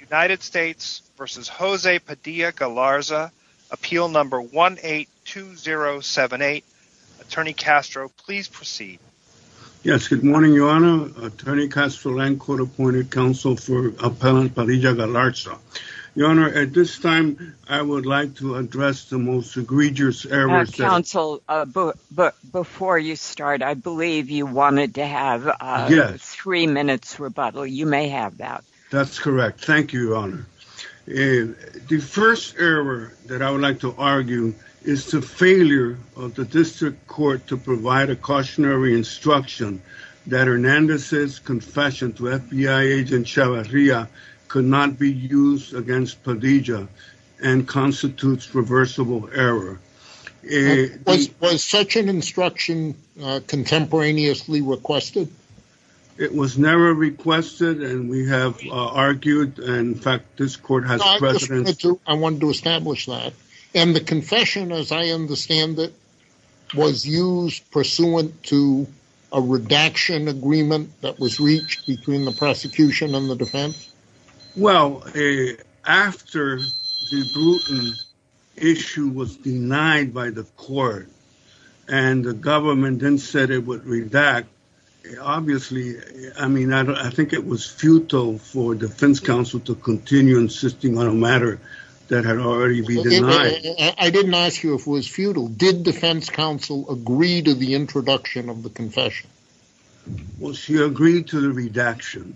United States v. José Padilla-Galarza Appeal No. 182078 Attorney Castro, please proceed. Yes, good morning, Your Honor. Attorney Castro, Land Court Appointed Counsel for Appellant Padilla-Galarza. Your Honor, at this time, I would like to address the most egregious errors that... Counsel, before you start, I believe you wanted to have a three-minute rebuttal. You may have that. That's correct. Thank you, Your Honor. The first error that I would like to argue is the failure of the district court to provide a cautionary instruction that Hernandez's confession to FBI agent Chavarria could not be used against Padilla and constitutes reversible error. Was such an instruction contemporaneously requested? It was never requested, and we have argued. In fact, this court has precedence... I wanted to establish that. And the confession, as I understand it, was used pursuant to a redaction agreement that was reached between the prosecution and the defense? Well, after the Bruton issue was denied by the court and the government then said it would redact, obviously, I mean, I think it was futile for defense counsel to continue insisting on a matter that had already been denied. I didn't ask you if it was futile. Did defense counsel agree to the introduction of the confession? Well, she agreed to the redaction.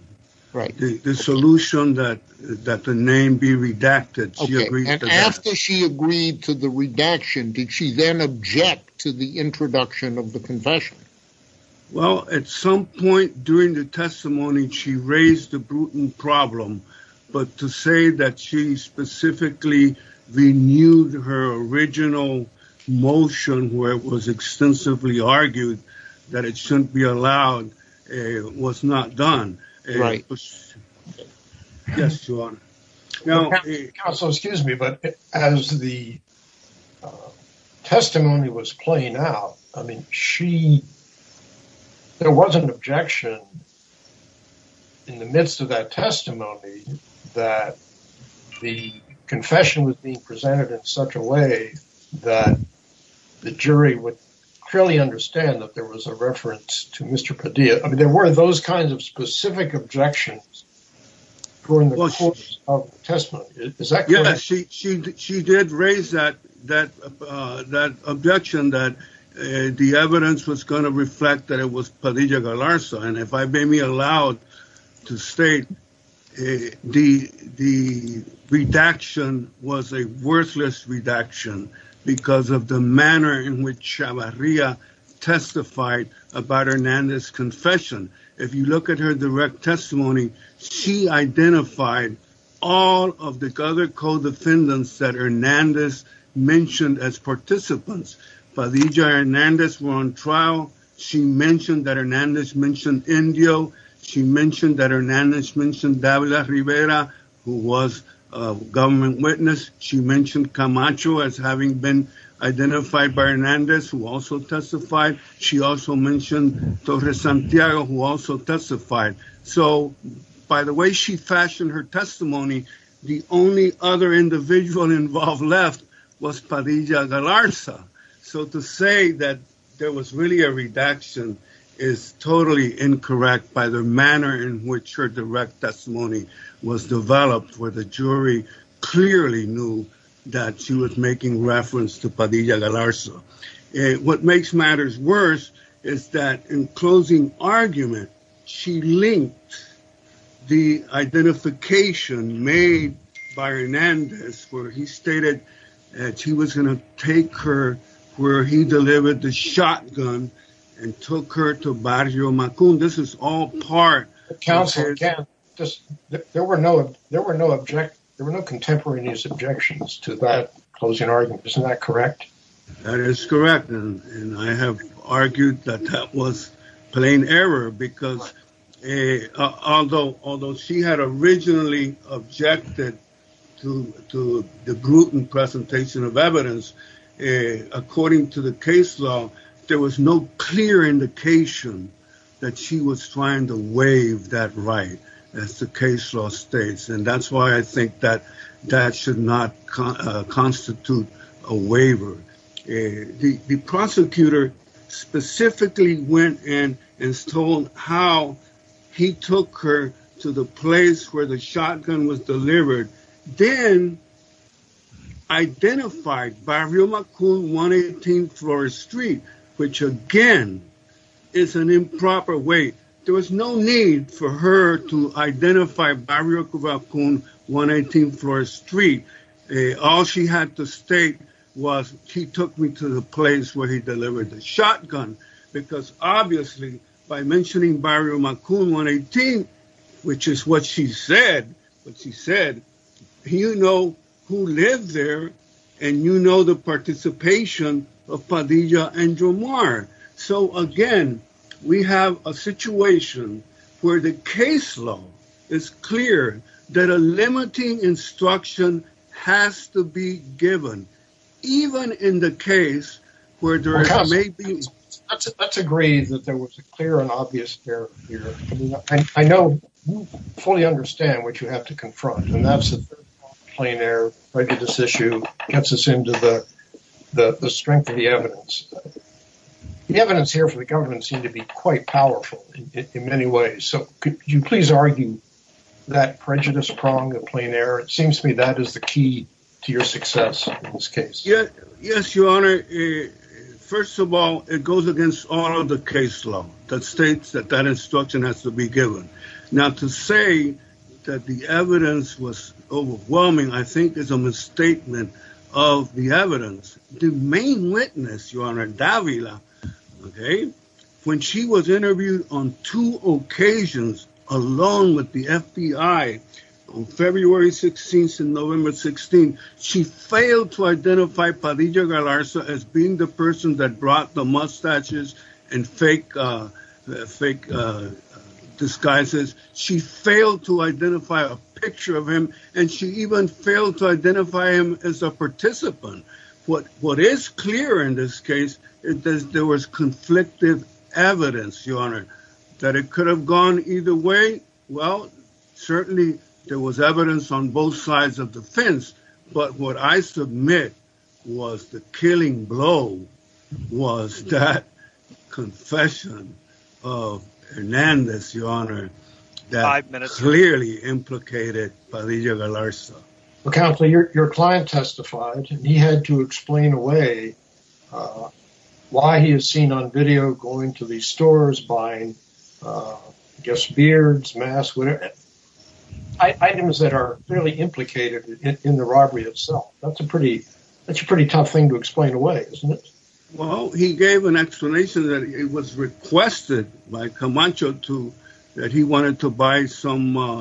Right. The solution that the name be redacted, she agreed to that. Okay, and after she agreed to the redaction, did she then object to the introduction of the confession? Well, at some point during the testimony, she raised the Bruton problem, but to say that she specifically renewed her original motion where it was extensively argued that it shouldn't be allowed was not done. Right. Yes, Your Honor. Counsel, excuse me, but as the testimony was playing out, I mean, there was an objection in the midst of that testimony that the confession was being presented in such a way that the jury would clearly understand that there was a reference to Mr. Padilla. I mean, there were those kinds of specific objections during the course of the testimony. Yeah, she did raise that objection that the evidence was going to reflect that it was Padilla-Galarza. And if I may be allowed to state, the redaction was a worthless redaction because of the manner in which Chavarria testified about Hernandez's confession. If you look at her direct testimony, she identified all of the other co-defendants that Hernandez mentioned as participants. Padilla and Hernandez were on trial. She mentioned that Hernandez mentioned Indio. She mentioned that Hernandez mentioned Davila Rivera, who was a government witness. She mentioned Camacho as having been identified by Hernandez, who also testified. She also mentioned Torres Santiago, who also testified. So by the way she fashioned her testimony, the only other individual involved left was Padilla-Galarza. So to say that there was really a redaction is totally incorrect by the manner in which her direct testimony was developed, where the jury clearly knew that she was making reference to Padilla-Galarza. What makes matters worse is that in closing argument, she linked the identification made by Hernandez, where he stated that he was going to take her where he delivered the shotgun and took her to Barrio Macon. This is all part of... Counsel, there were no contemporaneous objections to that closing argument. Isn't that correct? That is correct, and I have argued that that was plain error, because although she had originally objected to the Gruton presentation of evidence, according to the case law, there was no clear indication that she was trying to waive that right, as the case law states. And that's why I think that that should not constitute a waiver. The prosecutor specifically went in and told how he took her to the place where the shotgun was delivered, then identified Barrio Macon, 118 Flores Street, which again is an improper way. There was no need for her to identify Barrio Macon, 118 Flores Street. All she had to state was, he took me to the place where he delivered the shotgun. Because obviously, by mentioning Barrio Macon, 118, which is what she said, you know who lived there, and you know the participation of Padilla and Jamar. So again, we have a situation where the case law is clear that a limiting instruction has to be given, even in the case where there may be... Let's agree that there was a clear and obvious error here. I know you fully understand what you have to confront, and that's the third prong of plain error. This issue gets us into the strength of the evidence. The evidence here for the government seems to be quite powerful in many ways. So could you please argue that prejudice prong of plain error? It seems to me that is the key to your success in this case. Yes, Your Honor. First of all, it goes against all of the case law that states that that instruction has to be given. Now, to say that the evidence was overwhelming, I think, is a misstatement of the evidence. The main witness, Your Honor, Davila, when she was interviewed on two occasions, along with the FBI, on February 16th and November 16th, she failed to identify Padilla-Galarza as being the person that brought the mustaches and fake disguises. She failed to identify a picture of him, and she even failed to identify him as a participant. What is clear in this case is that there was conflictive evidence, Your Honor. That it could have gone either way, well, certainly there was evidence on both sides of the fence, but what I submit was the killing blow was that confession of Hernandez, Your Honor, that clearly implicated Padilla-Galarza. Counselor, your client testified. He had to explain away why he is seen on video going to these stores buying, I guess, beards, masks, items that are clearly implicated in the robbery itself. That's a pretty tough thing to explain away, isn't it? Well, he gave an explanation that it was requested by Camacho that he wanted to buy some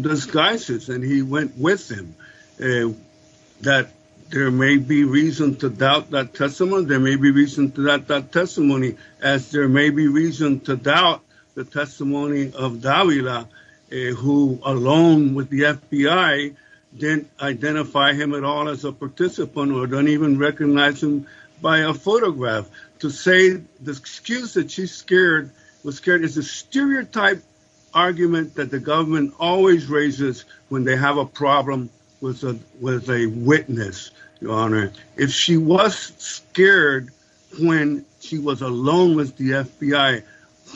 disguises, and he went with him, that there may be reason to doubt that testimony, as there may be reason to doubt the testimony of Davila, who alone with the FBI didn't identify him at all as a participant or didn't even recognize him by a photograph. To say the excuse that she's scared was scared is a stereotype argument that the government always raises when they have a problem with a witness, Your Honor. If she was scared when she was alone with the FBI,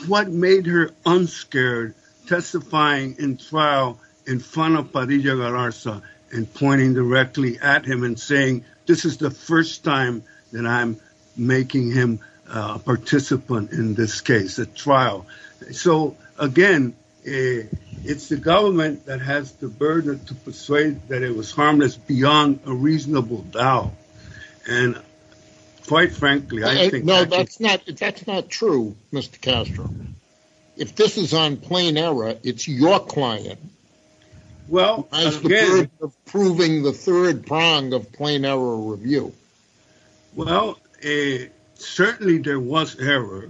what made her unscared testifying in trial in front of Padilla-Galarza and pointing directly at him and saying, this is the first time that I'm making him a participant in this case, a trial. So, again, it's the government that has the burden to persuade that it was harmless beyond a reasonable doubt. And quite frankly, I think... No, that's not true, Mr. Castro. If this is on plain error, it's your client. Well, again... Who has the burden of proving the third prong of plain error review. Well, certainly there was error.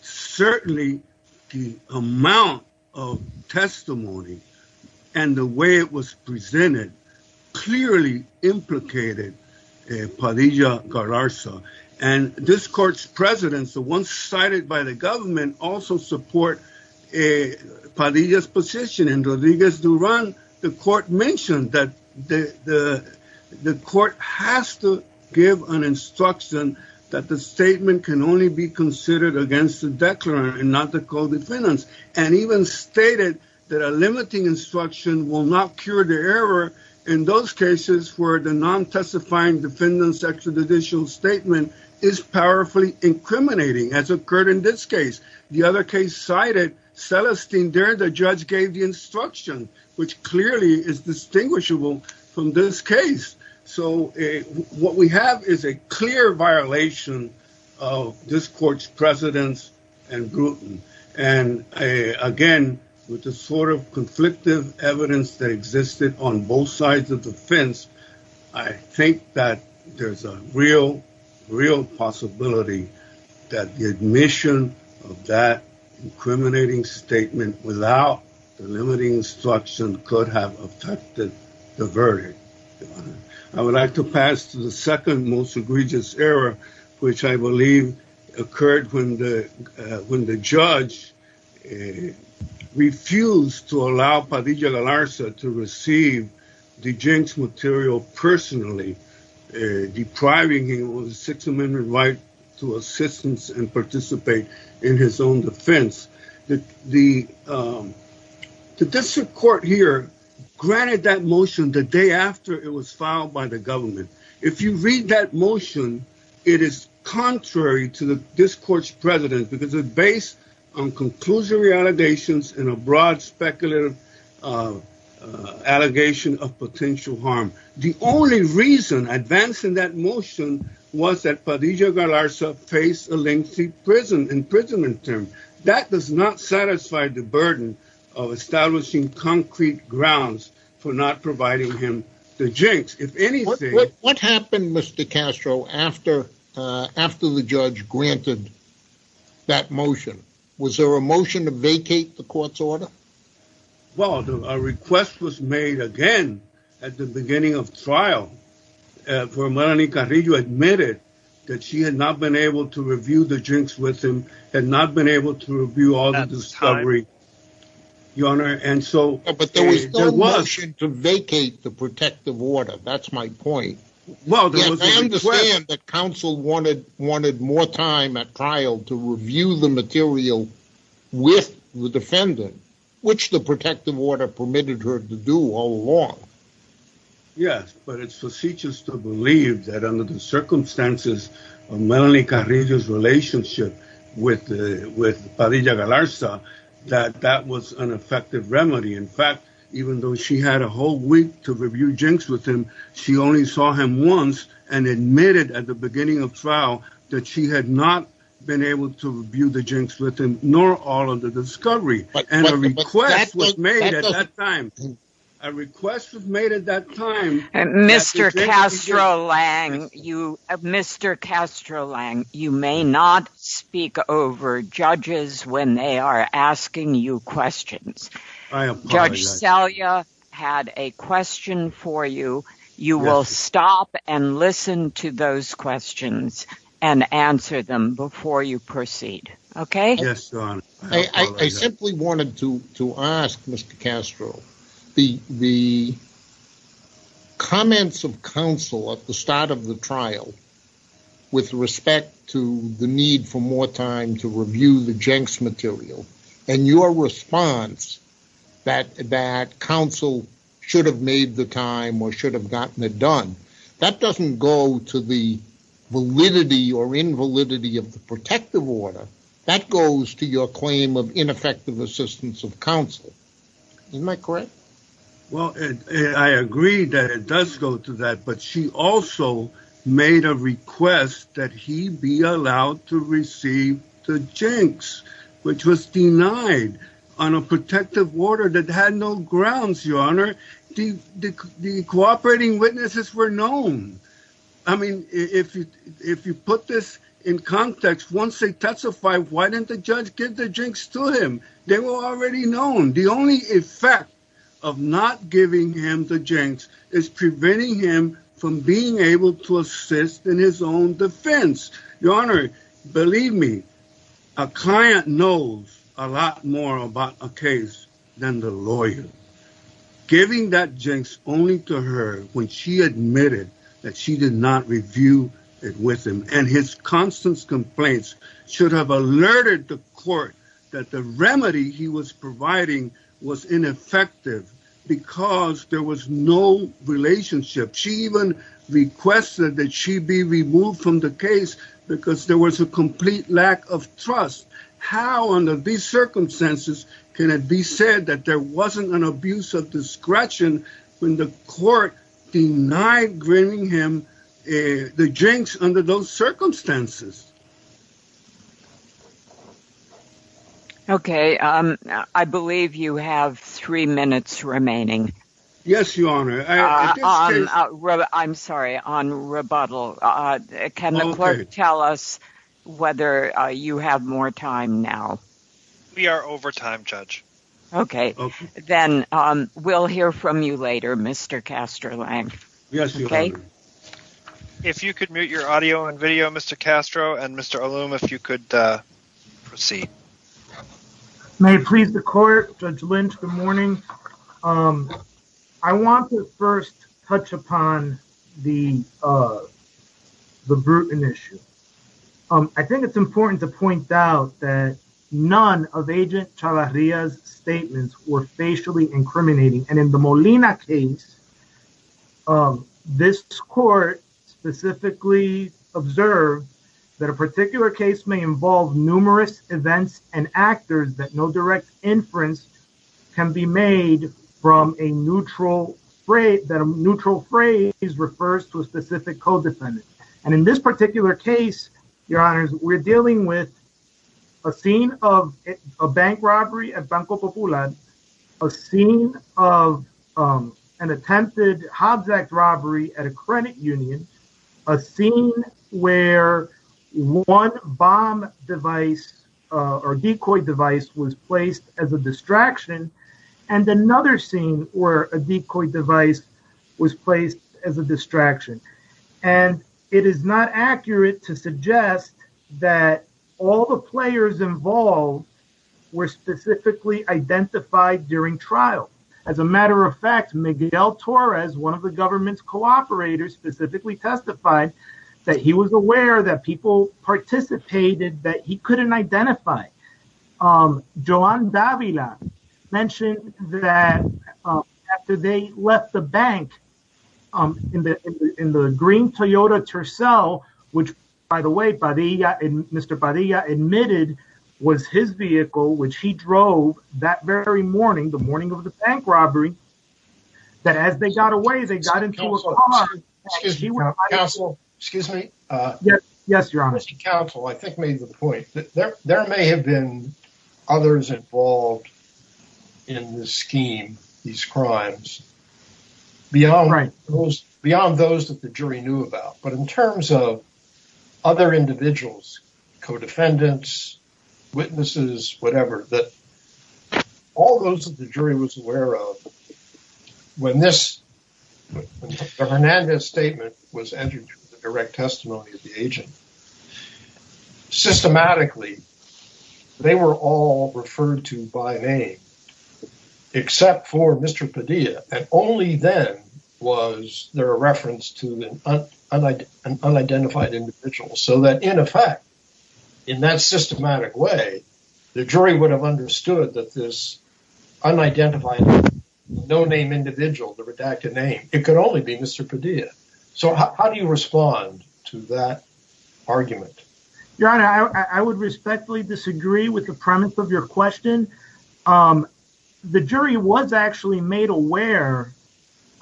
Certainly the amount of testimony and the way it was presented clearly implicated Padilla-Galarza. And this court's presidents, the ones cited by the government, also support Padilla's position. In Rodriguez-Duran, the court mentioned that the court has to give an instruction that the statement can only be considered against the declarant and not the co-defendants. And even stated that a limiting instruction will not cure the error in those cases where the non-testifying defendant's extrajudicial statement is powerfully incriminating, as occurred in this case. The other case cited, Celestine Duran, the judge, gave the instruction, which clearly is distinguishable from this case. So, what we have is a clear violation of this court's presidents and Grutten. And, again, with the sort of conflictive evidence that existed on both sides of the fence, I think that there's a real, real possibility that the admission of that incriminating statement without the limiting instruction could have affected the verdict. I would like to pass to the second most egregious error, which I believe occurred when the judge refused to allow Padilla-Galarza to receive the jinx material personally, depriving him of the Sixth Amendment right to assistance and participate in his own defense. The district court here granted that motion the day after it was filed by the government. If you read that motion, it is contrary to this court's president because it's based on conclusory allegations and a broad speculative allegation of potential harm. The only reason advancing that motion was that Padilla-Galarza faced a lengthy imprisonment term. That does not satisfy the burden of establishing concrete grounds for not providing him the jinx. What happened, Mr. Castro, after the judge granted that motion? Was there a motion to vacate the court's order? Well, a request was made again at the beginning of trial for Melanie Carrillo who admitted that she had not been able to review the jinx with him, had not been able to review all the discovery. But there was no motion to vacate the protective order. That's my point. I understand that counsel wanted more time at trial to review the material with the defendant, which the protective order permitted her to do all along. Yes, but it's facetious to believe that under the circumstances of Melanie Carrillo's relationship with Padilla-Galarza that that was an effective remedy. In fact, even though she had a whole week to review jinx with him, she only saw him once and admitted at the beginning of trial that she had not been able to review the jinx with him, nor all of the discovery. And a request was made at that time. A request was made at that time. Mr. Castro-Lang, you may not speak over judges when they are asking you questions. Judge Salyer had a question for you. You will stop and listen to those questions and answer them before you proceed. I simply wanted to ask, Mr. Castro, the comments of counsel at the start of the trial with respect to the need for more time to review the jinx material and your response that counsel should have made the time or should have gotten it done. That doesn't go to the validity or invalidity of the protective order. That goes to your claim of ineffective assistance of counsel. Am I correct? Well, I agree that it does go to that. But she also made a request that he be allowed to receive the jinx, which was denied on a protective order that had no grounds, Your Honor. The cooperating witnesses were known. I mean, if you put this in context, once they testified, why didn't the judge give the jinx to him? They were already known. The only effect of not giving him the jinx is preventing him from being able to assist in his own defense. Your Honor, believe me, a client knows a lot more about a case than the lawyer. Giving that jinx only to her when she admitted that she did not review it with him and his constant complaints should have alerted the court that the remedy he was providing was ineffective because there was no relationship. She even requested that she be removed from the case because there was a complete lack of trust. How under these circumstances can it be said that there wasn't an abuse of discretion when the court denied giving him the jinx under those circumstances? Okay, I believe you have three minutes remaining. Yes, Your Honor. I'm sorry, on rebuttal. Can the court tell us whether you have more time now? We are over time, Judge. Okay, then we'll hear from you later, Mr. Castro-Lange. Yes, Your Honor. If you could mute your audio and video, Mr. Castro, and Mr. Allum, if you could proceed. I want to first touch upon the Bruton issue. I think it's important to point out that none of Agent Chavarria's statements were facially incriminating. And in the Molina case, this court specifically observed that a particular case may involve numerous events and actors that no direct inference can be made from a neutral phrase that refers to a specific co-defendant. And in this particular case, Your Honors, we're dealing with a scene of a bank robbery at Banco Popular, a scene of an attempted Hobbs Act robbery at a credit union, a scene where one bomb device or decoy device was placed as a distraction, and another scene where a decoy device was placed as a distraction. And it is not accurate to suggest that all the players involved were specifically identified during trial. As a matter of fact, Miguel Torres, one of the government's cooperators, specifically testified that he was aware that people participated that he couldn't identify. Joan Davila mentioned that after they left the bank in the green Toyota Tercel, which, by the way, Mr. Padilla admitted was his vehicle, which he drove that very morning, the morning of the bank robbery, that as they got away, they got into a car. Excuse me. Yes, Your Honors. Counsel, I think, made the point that there may have been others involved in this scheme, these crimes, beyond those that the jury knew about. But in terms of other individuals, co-defendants, witnesses, whatever, all those that the jury was aware of, when this Hernandez statement was entered into the direct testimony of the agent, systematically, they were all referred to by name, except for Mr. Padilla. And only then was there a reference to an unidentified individual. So that, in effect, in that systematic way, the jury would have understood that this unidentified no-name individual, the redacted name, it could only be Mr. Padilla. So how do you respond to that argument? Your Honor, I would respectfully disagree with the premise of your question. The jury was actually made aware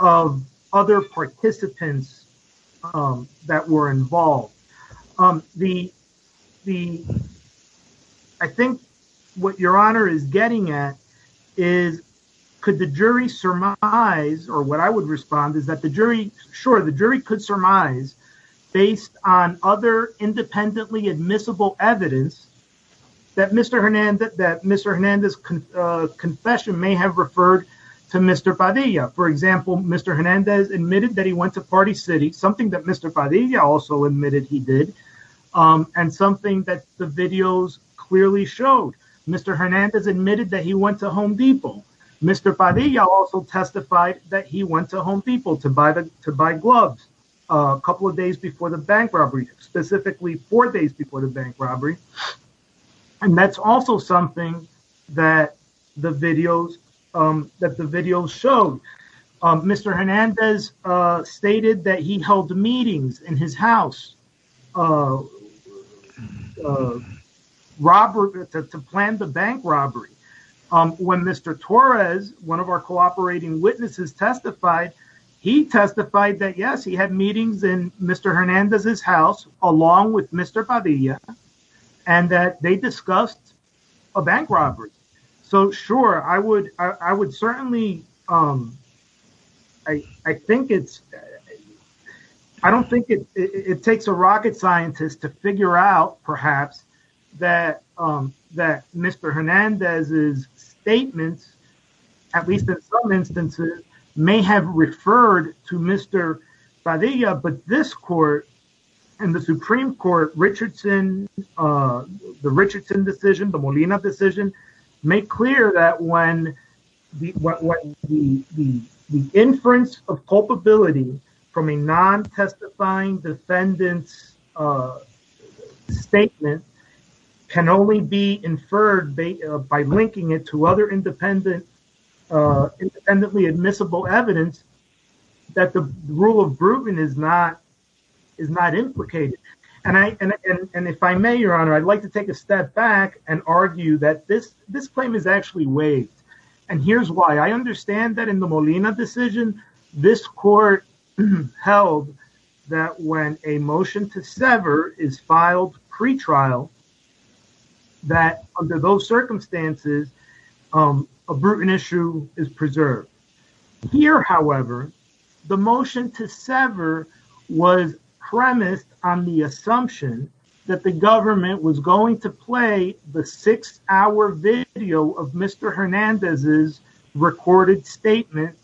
of other participants that were involved. I think what Your Honor is getting at is, could the jury surmise, or what I would respond is that the jury, sure, the jury could surmise, based on other independently admissible evidence, that Mr. Hernandez' confession may have referred to Mr. Padilla. For example, Mr. Hernandez admitted that he went to Party City, something that Mr. Padilla also admitted he did, and something that the videos clearly showed. Mr. Hernandez admitted that he went to Home Depot. Mr. Padilla also testified that he went to Home Depot to buy gloves a couple of days before the bank robbery, specifically four days before the bank robbery, and that's also something that the videos showed. Mr. Hernandez stated that he held meetings in his house to plan the bank robbery. When Mr. Torres, one of our cooperating witnesses, testified, he testified that, yes, he had meetings in Mr. Hernandez' house along with Mr. Padilla, and that they discussed a bank robbery. So, sure, I would certainly, I think it's, I don't think it takes a rocket scientist to figure out, perhaps, that Mr. Hernandez' statements, at least in some instances, may have referred to Mr. Padilla, but this court and the Supreme Court, Richardson, the Richardson decision, the Molina decision, make clear that when the inference of culpability from a non-testifying defendant's statement can only be inferred by linking it to other independently admissible evidence, that the rule of Grubin is not implicated. And if I may, Your Honor, I'd like to take a step back and argue that this claim is actually waived, and here's why. I understand that in the Molina decision, this court held that when a motion to sever is filed pretrial, that under those circumstances, a Bruton issue is preserved. Here, however, the motion to sever was premised on the assumption that the government was going to play the six-hour video of Mr. Hernandez' recorded statement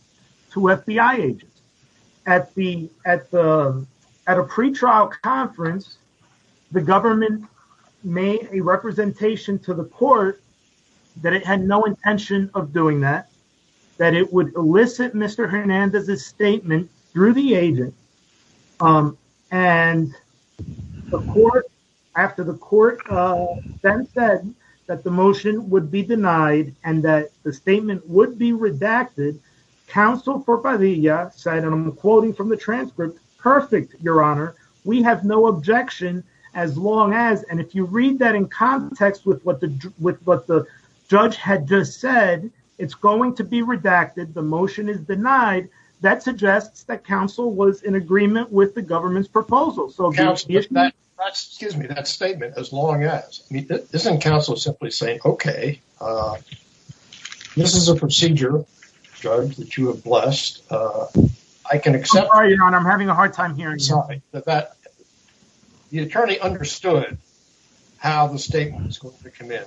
to FBI agents. At a pretrial conference, the government made a representation to the court that it had no intention of doing that, that it would elicit Mr. Hernandez' statement through the agent, and after the court then said that the motion would be denied and that the statement would be redacted, Council for Padilla said, and I'm quoting from the transcript, perfect, Your Honor, we have no objection as long as, and if you read that in context with what the judge had just said, it's going to be redacted, the motion is denied, that suggests that Council was in agreement with the government's proposal. Excuse me, that statement, as long as, isn't Council simply saying, okay, this is a procedure, Judge, that you have blessed. I can accept that. I'm sorry, Your Honor, I'm having a hard time hearing something. The attorney understood how the statement was going to come in.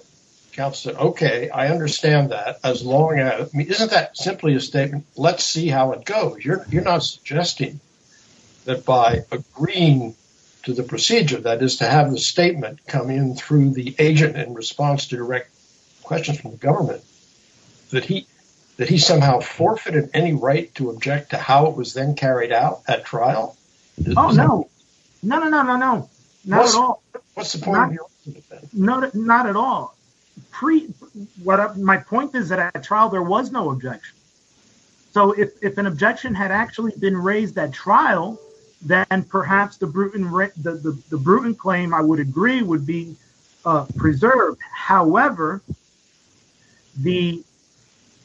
Council said, okay, I understand that, as long as, isn't that simply a statement, let's see how it goes? You're not suggesting that by agreeing to the procedure, that is to have the statement come in through the agent in response to direct questions from the government, that he somehow forfeited any right to object to how it was then carried out at trial? Oh, no, no, no, no, no, no, not at all. What's the point of your argument then? Not at all. My point is that at trial there was no objection. So if an objection had actually been raised at trial, then perhaps the Bruton claim, I would agree, would be preserved. However,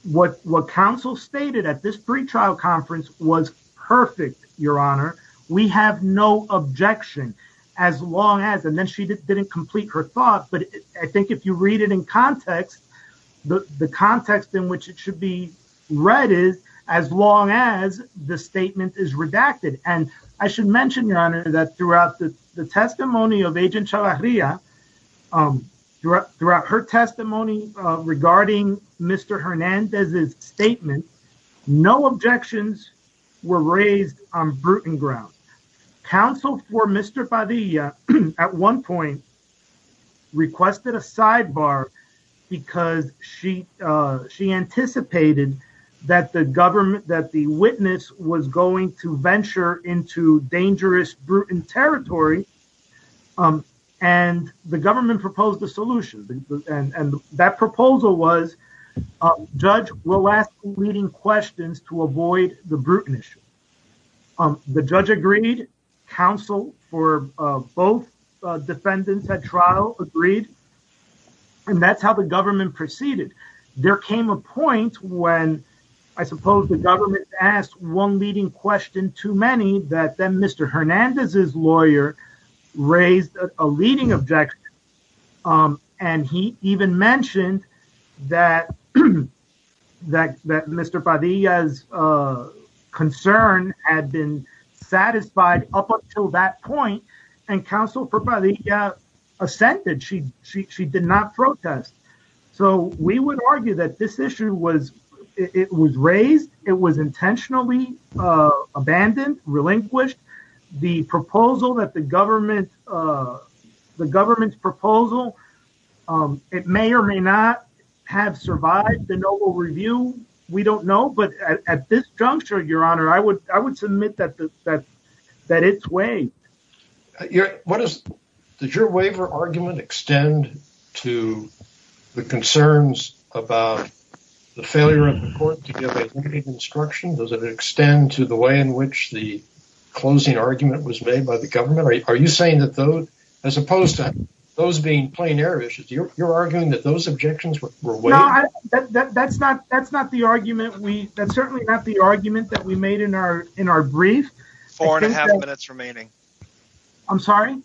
what Council stated at this pretrial conference was perfect, Your Honor, we have no objection, as long as, and then she didn't complete her thought, but I think if you read it in context, the context in which it should be read is, as long as the statement is redacted. And I should mention, Your Honor, that throughout the testimony of Agent Chavarria, throughout her testimony regarding Mr. Hernandez's statement, no objections were raised on Bruton grounds. Council for Mr. Padilla at one point requested a sidebar because she anticipated that the government, that the witness was going to venture into dangerous Bruton territory, and the government proposed a solution. And that proposal was, judge will ask leading questions to avoid the Bruton issue. The judge agreed. Council for both defendants at trial agreed. And that's how the government proceeded. There came a point when, I suppose, the government asked one leading question too many, that then Mr. Hernandez's lawyer raised a leading objection. And he even mentioned that Mr. Padilla's concern had been satisfied up until that point, and Council for Padilla assented. She did not protest. So we would argue that this issue was, it was raised. It was intentionally abandoned, relinquished. The proposal that the government, the government's proposal, it may or may not have survived the noble review. We don't know, but at this juncture, Your Honor, I would submit that it's waived. What is, did your waiver argument extend to the concerns about the failure of the court to give a unique instruction? Does it extend to the way in which the closing argument was made by the government? Are you saying that those, as opposed to those being plain air issues, you're arguing that those objections were waived? No, that's not, that's not the argument we, that's certainly not the argument that we made in our, in our brief. Four and a half minutes remaining. I'm sorry?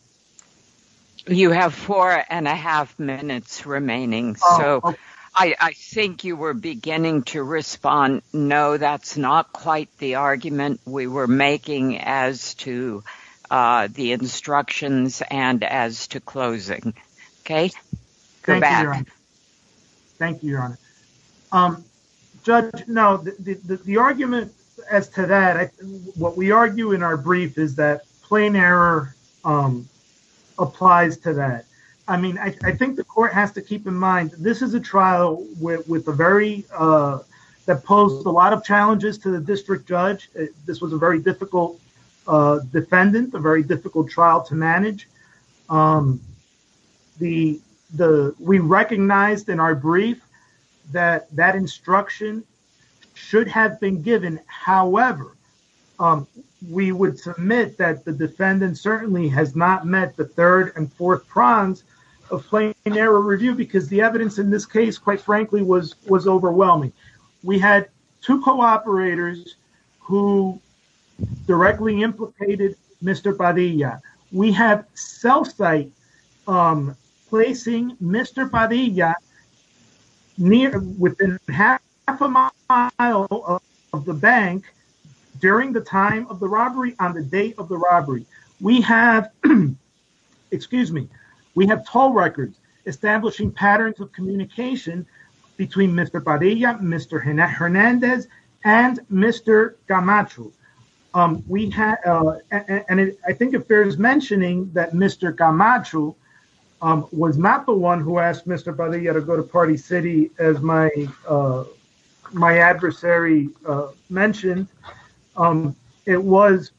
You have four and a half minutes remaining. So I think you were beginning to respond. No, that's not quite the argument we were making as to the instructions and as to closing. Okay. Thank you, Your Honor. Thank you, Your Honor. Judge, no, the argument as to that, what we argue in our brief is that plain error applies to that. I mean, I think the court has to keep in mind, this is a trial with a very, that posed a lot of challenges to the district judge. This was a very difficult defendant, a very difficult trial to manage. The, the, we recognized in our brief that that instruction should have been given. However, we would submit that the defendant certainly has not met the third and fourth prongs of plain error review, because the evidence in this case, quite frankly, was, was overwhelming. We had two co-operators who directly implicated Mr. Padilla. We have cell site placing Mr. Padilla within half a mile of the bank during the time of the robbery, on the date of the robbery. We have, excuse me, we have toll records establishing patterns of communication between Mr. Padilla, Mr. Hernandez, and Mr. Camacho. We had, and I think if there is mentioning that Mr. Camacho was not the one who asked Mr. Padilla to go to Party City, as my, my adversary mentioned, it was,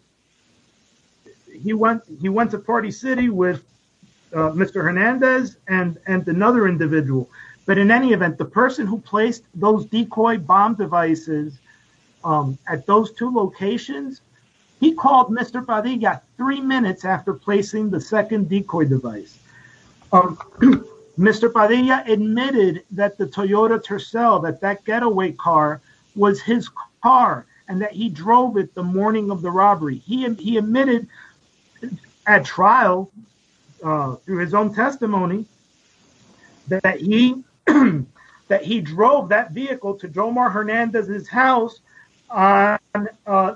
he went, he went to Party City with Mr. Hernandez and another individual. But in any event, the person who placed those decoy bomb devices at those two locations, he called Mr. Padilla three minutes after placing the second decoy device. Mr. Padilla admitted that the Toyota Tercel, that that getaway car was his car and that he drove it the morning of the robbery. He admitted at trial, through his own testimony, that he drove that vehicle to Jomar Hernandez's house on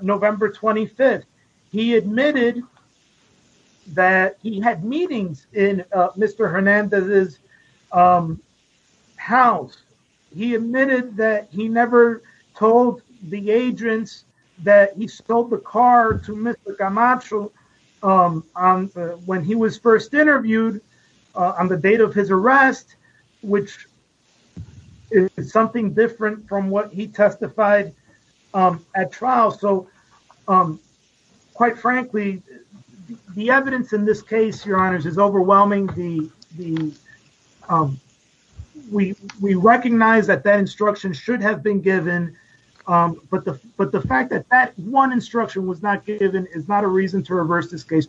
November 25th. He admitted that he had meetings in Mr. Hernandez's house. He admitted that he never told the agents that he sold the car to Mr. Camacho when he was first interviewed on the date of his arrest, which is something different from what he testified at trial. So quite frankly, the evidence in this case, your honors, is overwhelming. We recognize that that instruction should have been given, but the fact that that one instruction was not given is not a reason to reverse this case,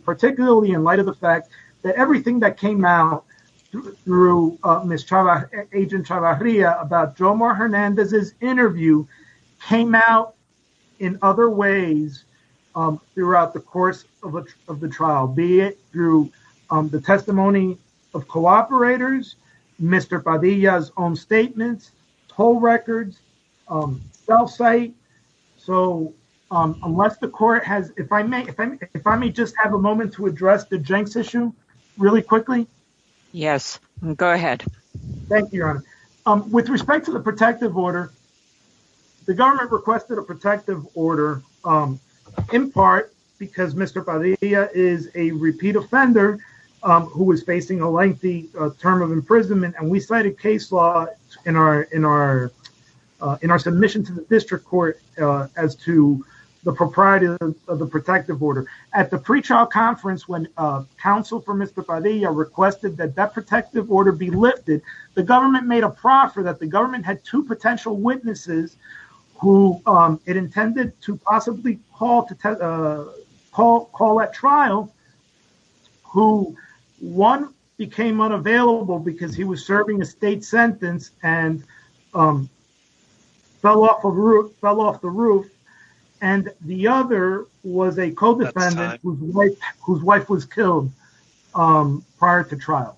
throughout the course of the trial, be it through the testimony of cooperators, Mr. Padilla's own statements, toll records, self-cite. So unless the court has, if I may, if I may just have a moment to address the Jenks issue really quickly. Yes, go ahead. Thank you, your honor. With respect to the protective order, the government requested a protective order in part because Mr. Padilla is a repeat offender who was facing a lengthy term of imprisonment. And we cited case law in our, in our, in our submission to the district court as to the propriety of the protective order. At the pre-trial conference, when counsel for Mr. Padilla requested that that protective order be lifted, the government made a proffer that the government had two potential witnesses who it intended to possibly call at trial, who one became unavailable because he was serving a state sentence and fell off the roof. And the other was a co-defendant whose wife was killed prior to trial.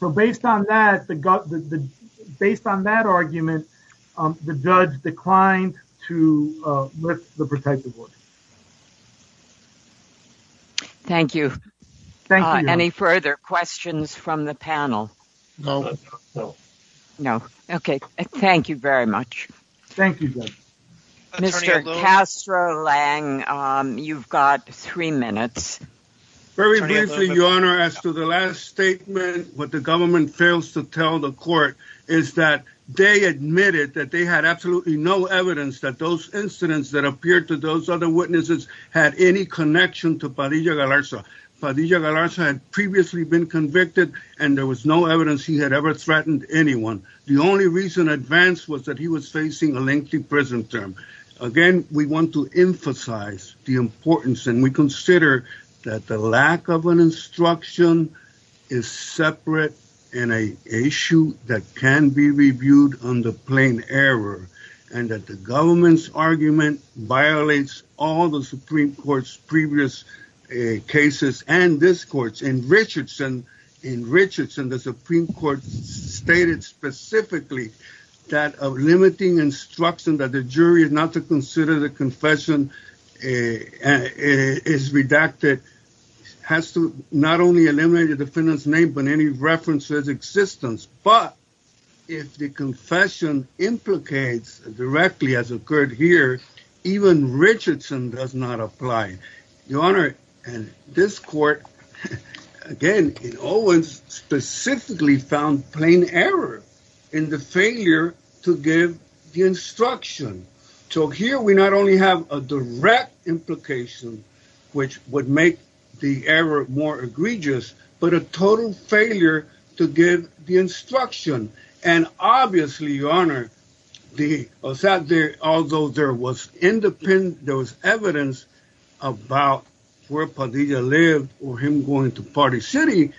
So based on that, based on that argument, the judge declined to lift the protective order. Thank you. Any further questions from the panel? No. No. Okay. Thank you very much. Thank you. Mr. Castro-Lang, you've got three minutes. Very briefly, Your Honor, as to the last statement, what the government fails to tell the court is that they admitted that they had absolutely no evidence that those incidents that appeared to those other witnesses had any connection to Padilla-Galarza. Padilla-Galarza had previously been convicted and there was no evidence he had ever threatened anyone. The only reason advanced was that he was facing a lengthy prison term. Again, we want to emphasize the importance and we consider that the lack of an instruction is separate and an issue that can be reviewed under plain error. And that the government's argument violates all the Supreme Court's previous cases and this court's. In Richardson, the Supreme Court stated specifically that a limiting instruction that the jury is not to consider the confession is redacted has to not only eliminate the defendant's name but any reference to his existence. But if the confession implicates directly as occurred here, even Richardson does not apply. Your Honor, and this court, again, it always specifically found plain error in the failure to give the instruction. So here we not only have a direct implication, which would make the error more egregious, but a total failure to give the instruction. And obviously, Your Honor, although there was evidence about where Padilla lived or him going to Party City,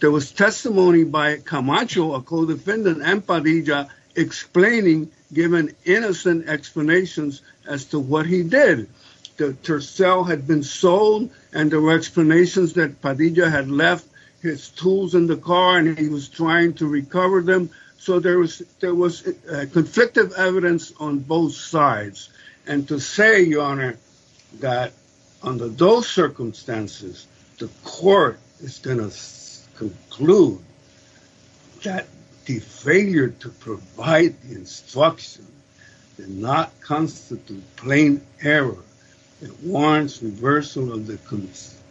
there was testimony by Camacho, a co-defendant, and Padilla explaining, giving innocent explanations as to what he did. The Tercel had been sold and there were explanations that Padilla had left his tools in the car and he was trying to recover them. So there was conflictive evidence on both sides. And to say, Your Honor, that under those circumstances, the court is going to conclude that the failure to provide the instruction did not constitute plain error. It warrants reversal of the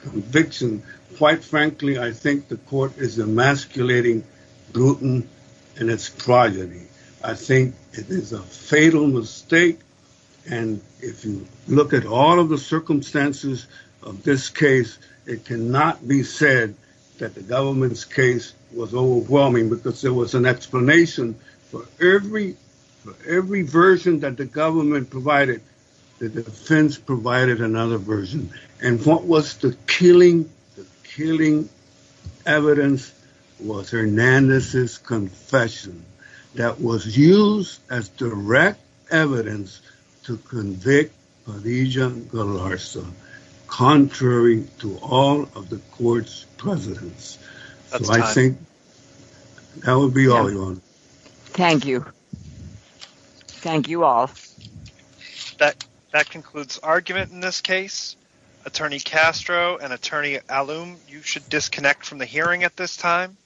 conviction. Quite frankly, I think the court is emasculating Bruton in its progeny. I think it is a fatal mistake. And if you look at all of the circumstances of this case, it cannot be said that the government's case was overwhelming because there was an explanation for every version that the government provided. The defense provided another version. And what was the killing evidence was Hernandez's confession that was used as direct evidence to convict Padilla Galarza, contrary to all of the court's precedence. So I think that would be all, Your Honor. Thank you. Thank you all. That concludes argument in this case. Attorney Castro and Attorney Allum, you should disconnect from the hearing at this time.